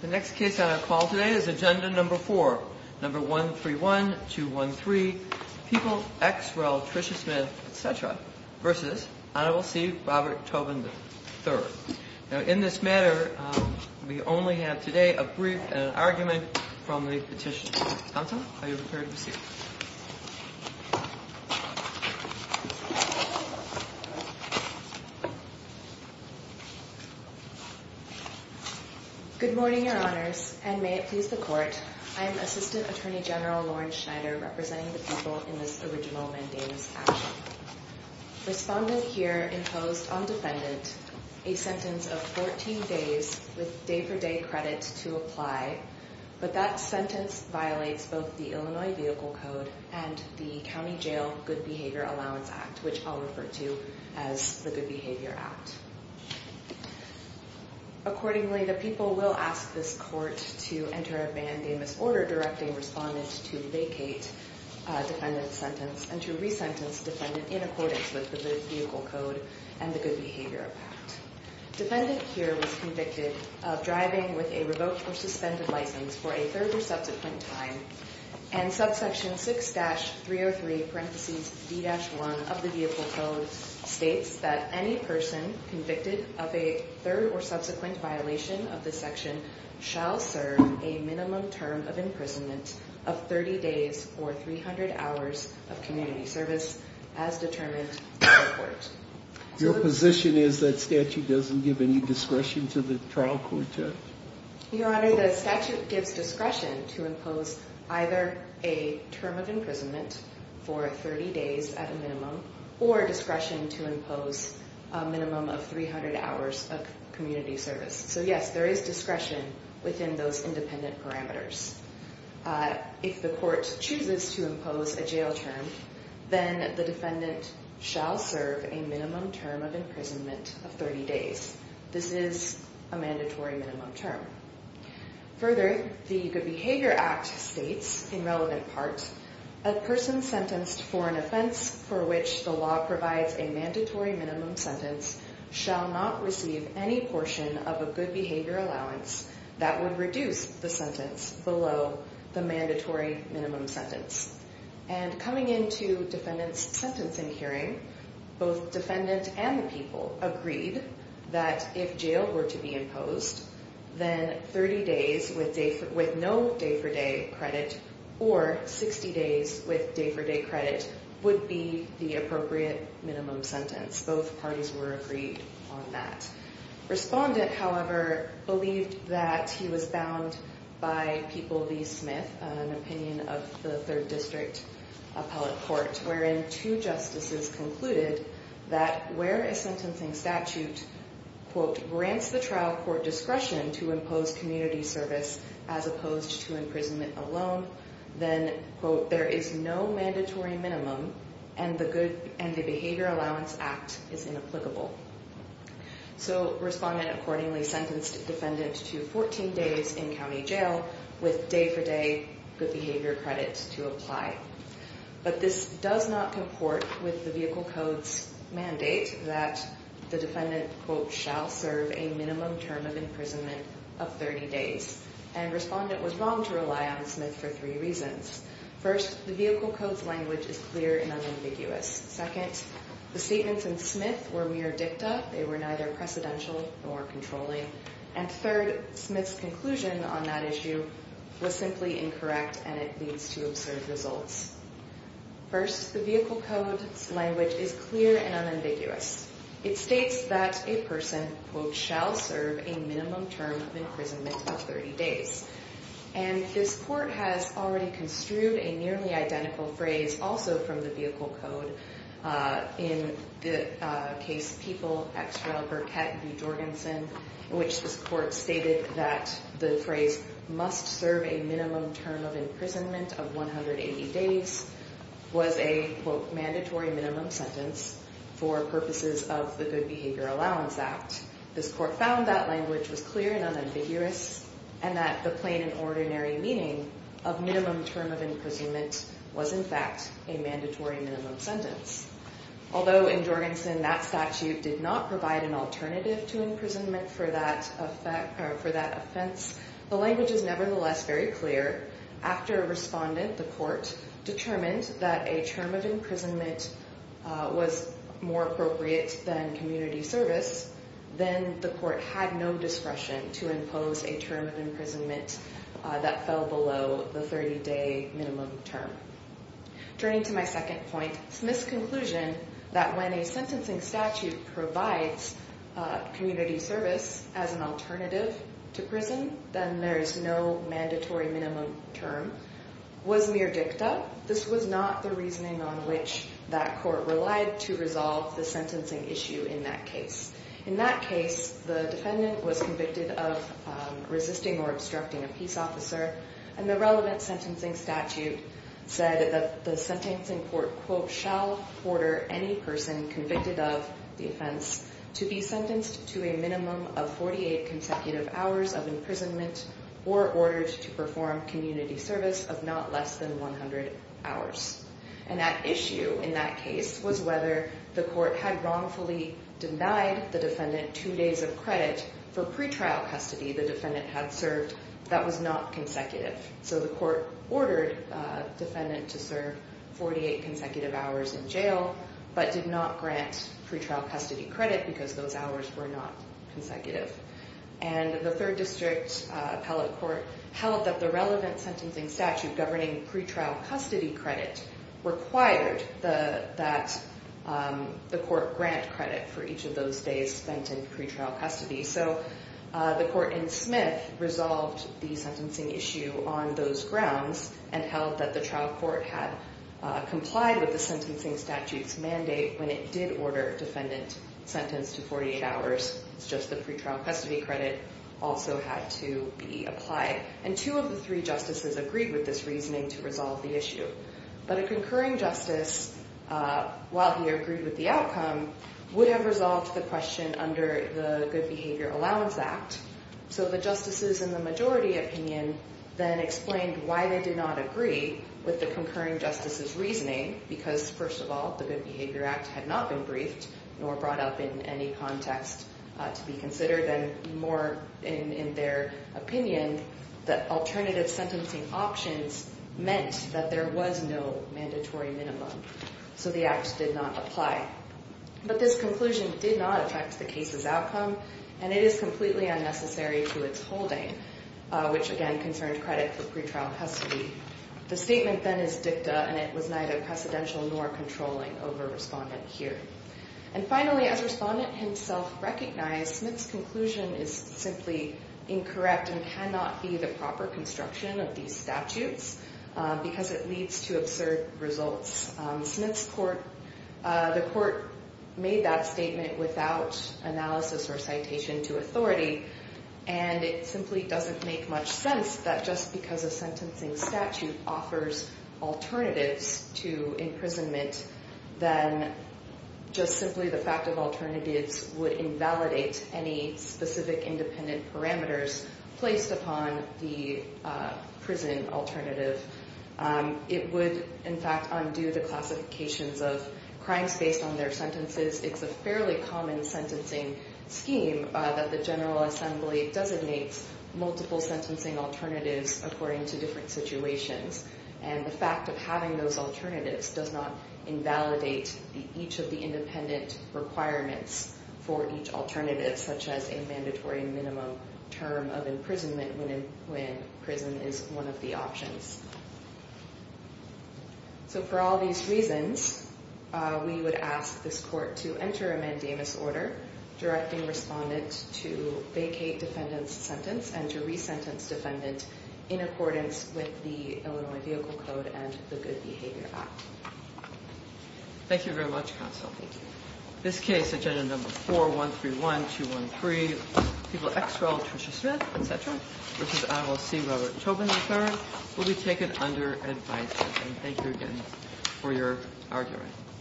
The next case on our call today is agenda number four, number 131213, People, X, Rel, Trisha Smith, etc. versus Honorable C. Robert Tobin III. Now in this matter, we only have today a brief and an argument from the petition. Anton, are you prepared to proceed? Good morning, Your Honors, and may it please the Court, I am Assistant Attorney General Lauren Schneider representing the people in this original mandamus action. Respondent here imposed on defendant a sentence of 14 days with day-for-day credit to apply, but that sentence violates both the Illinois Vehicle Code and the County Jail Good Behavior Allowance Act, which I'll refer to as the Good Behavior Act. Accordingly, the people will ask this Court to enter a mandamus order directing respondents to vacate defendant's sentence and to resentence defendant in accordance with the good vehicle code and the good behavior act. Defendant here was convicted of driving with a revoked or suspended license for a third or subsequent time, and subsection 6-303-D-1 of the vehicle code states that any person convicted of a third or subsequent violation of this section shall serve a minimum term of imprisonment of 30 days or 300 hours of community service as determined by the Court. Your position is that statute doesn't give any discretion to the trial court judge? Your Honor, the statute gives discretion to impose either a term of imprisonment for 30 days at a minimum or discretion to impose a minimum of 300 hours of community service. So yes, there is discretion within those independent parameters. If the Court chooses to impose a jail term, then the defendant shall serve a minimum term of imprisonment of 30 days. This is a mandatory minimum term. Further, the Good Behavior Act states, in relevant parts, a person sentenced for an offense for which the law provides a mandatory minimum sentence shall not receive any portion of a good behavior allowance that would reduce the sentence below the mandatory minimum sentence. And coming into defendant's sentencing hearing, both defendant and the people agreed that if jail were to be imposed, then 30 days with no day-for-day credit or 60 days with day-for-day credit would be the appropriate minimum sentence. Both parties were agreed on that. Respondent, however, believed that he was bound by People v. Smith, an opinion of the Third District Appellate Court, wherein two justices concluded that where a sentencing statute, quote, grants the trial court discretion to impose community service as opposed to imprisonment alone, then, quote, there is no mandatory minimum and the Behavior Allowance Act is inapplicable. So respondent accordingly sentenced defendant to 14 days in county jail with day-for-day good behavior credit to apply. But this does not comport with the Vehicle Code's mandate that the defendant, quote, shall serve a minimum term of imprisonment of 30 days. And respondent was wrong to rely on Smith for three reasons. First, the Vehicle Code's language is clear and unambiguous. Second, the statements in Smith were mere dicta. They were neither precedential nor controlling. And third, Smith's conclusion on that issue was simply incorrect and it leads to absurd results. First, the Vehicle Code's language is clear and unambiguous. It states that a person, quote, shall serve a minimum term of imprisonment of 30 days. And this court has already construed a nearly identical phrase also from the Vehicle Code in the case People, X. Rel., Burkett v. Jorgensen in which this court stated that the phrase must serve a minimum term of imprisonment of 180 days was a, quote, mandatory minimum sentence for purposes of the Good Behavior Allowance Act. This court found that language was clear and unambiguous and that the plain and ordinary meaning of minimum term of imprisonment was, in fact, a mandatory minimum sentence. Although in Jorgensen that statute did not provide an alternative to imprisonment for that offense, the language is nevertheless very clear. After a respondent, the court, determined that a term of imprisonment was more appropriate than community service, then the court had no discretion to impose a term of imprisonment that fell below the 30-day minimum term. Turning to my second point, Smith's conclusion that when a sentencing statute provides community service as an alternative to prison, then there is no mandatory minimum term was mere dicta. This was not the reasoning on which that court relied to resolve the sentencing issue in that case. In that case, the defendant was convicted of resisting or obstructing a peace officer, and the relevant sentencing statute said that the sentencing court, quote, shall order any person convicted of the offense to be sentenced to a minimum of 48 consecutive hours of imprisonment or ordered to perform community service of not less than 100 hours. And that issue in that case was whether the court had wrongfully denied the defendant two days of credit for pretrial custody the defendant had served that was not consecutive. So the court ordered the defendant to serve 48 consecutive hours in jail, but did not grant pretrial custody credit because those hours were not consecutive. And the third district appellate court held that the relevant sentencing statute governing pretrial custody credit required that the court grant credit for each of those days spent in pretrial custody. So the court in Smith resolved the sentencing issue on those grounds and held that the trial court had complied with the sentencing statute's mandate when it did order defendant sentenced to 48 hours. It's just the pretrial custody credit also had to be applied. And two of the three justices agreed with this reasoning to resolve the issue. But a concurring justice, while he agreed with the outcome, would have resolved the question under the Good Behavior Allowance Act. So the justices in the majority opinion then explained why they did not agree with the concurring justice's reasoning because first of all, the Good Behavior Act had not been briefed nor brought up in any context to be considered and more in their opinion that alternative sentencing options meant that there was no mandatory minimum. So the act did not apply. But this conclusion did not affect the case's outcome and it is completely unnecessary to its holding, which again concerned credit for pretrial custody. The statement then is dicta and it was neither precedential nor controlling over respondent hearing. And finally, as respondent himself recognized, Smith's conclusion is simply incorrect and cannot be the proper construction of these statutes because it leads to absurd results. Smith's court, the court made that statement without analysis or citation to authority and it simply doesn't make much sense that just because a sentencing statute offers alternatives to imprisonment, then just simply the fact of alternatives would invalidate any specific independent parameters placed upon the prison alternative. It would in fact undo the classifications of crimes based on their sentences. It's a fairly common sentencing scheme that the General Assembly designates multiple sentencing alternatives according to different situations. And the fact of having those alternatives does not invalidate each of the independent requirements for each alternative, such as a mandatory minimum term of imprisonment when prison is one of the options. So for all these reasons, we would ask this court to enter a mandamus order directing respondent to vacate defendant's sentence and to resentence defendant in accordance with the Illinois Vehicle Code and the Good Behavior Act. Thank you very much, counsel. Thank you. This case, agenda number 4131213, people ex-rel, Trisha Smith, et cetera, v. IOC, Robert Tobin III, will be taken under advisory. Thank you again for your argument.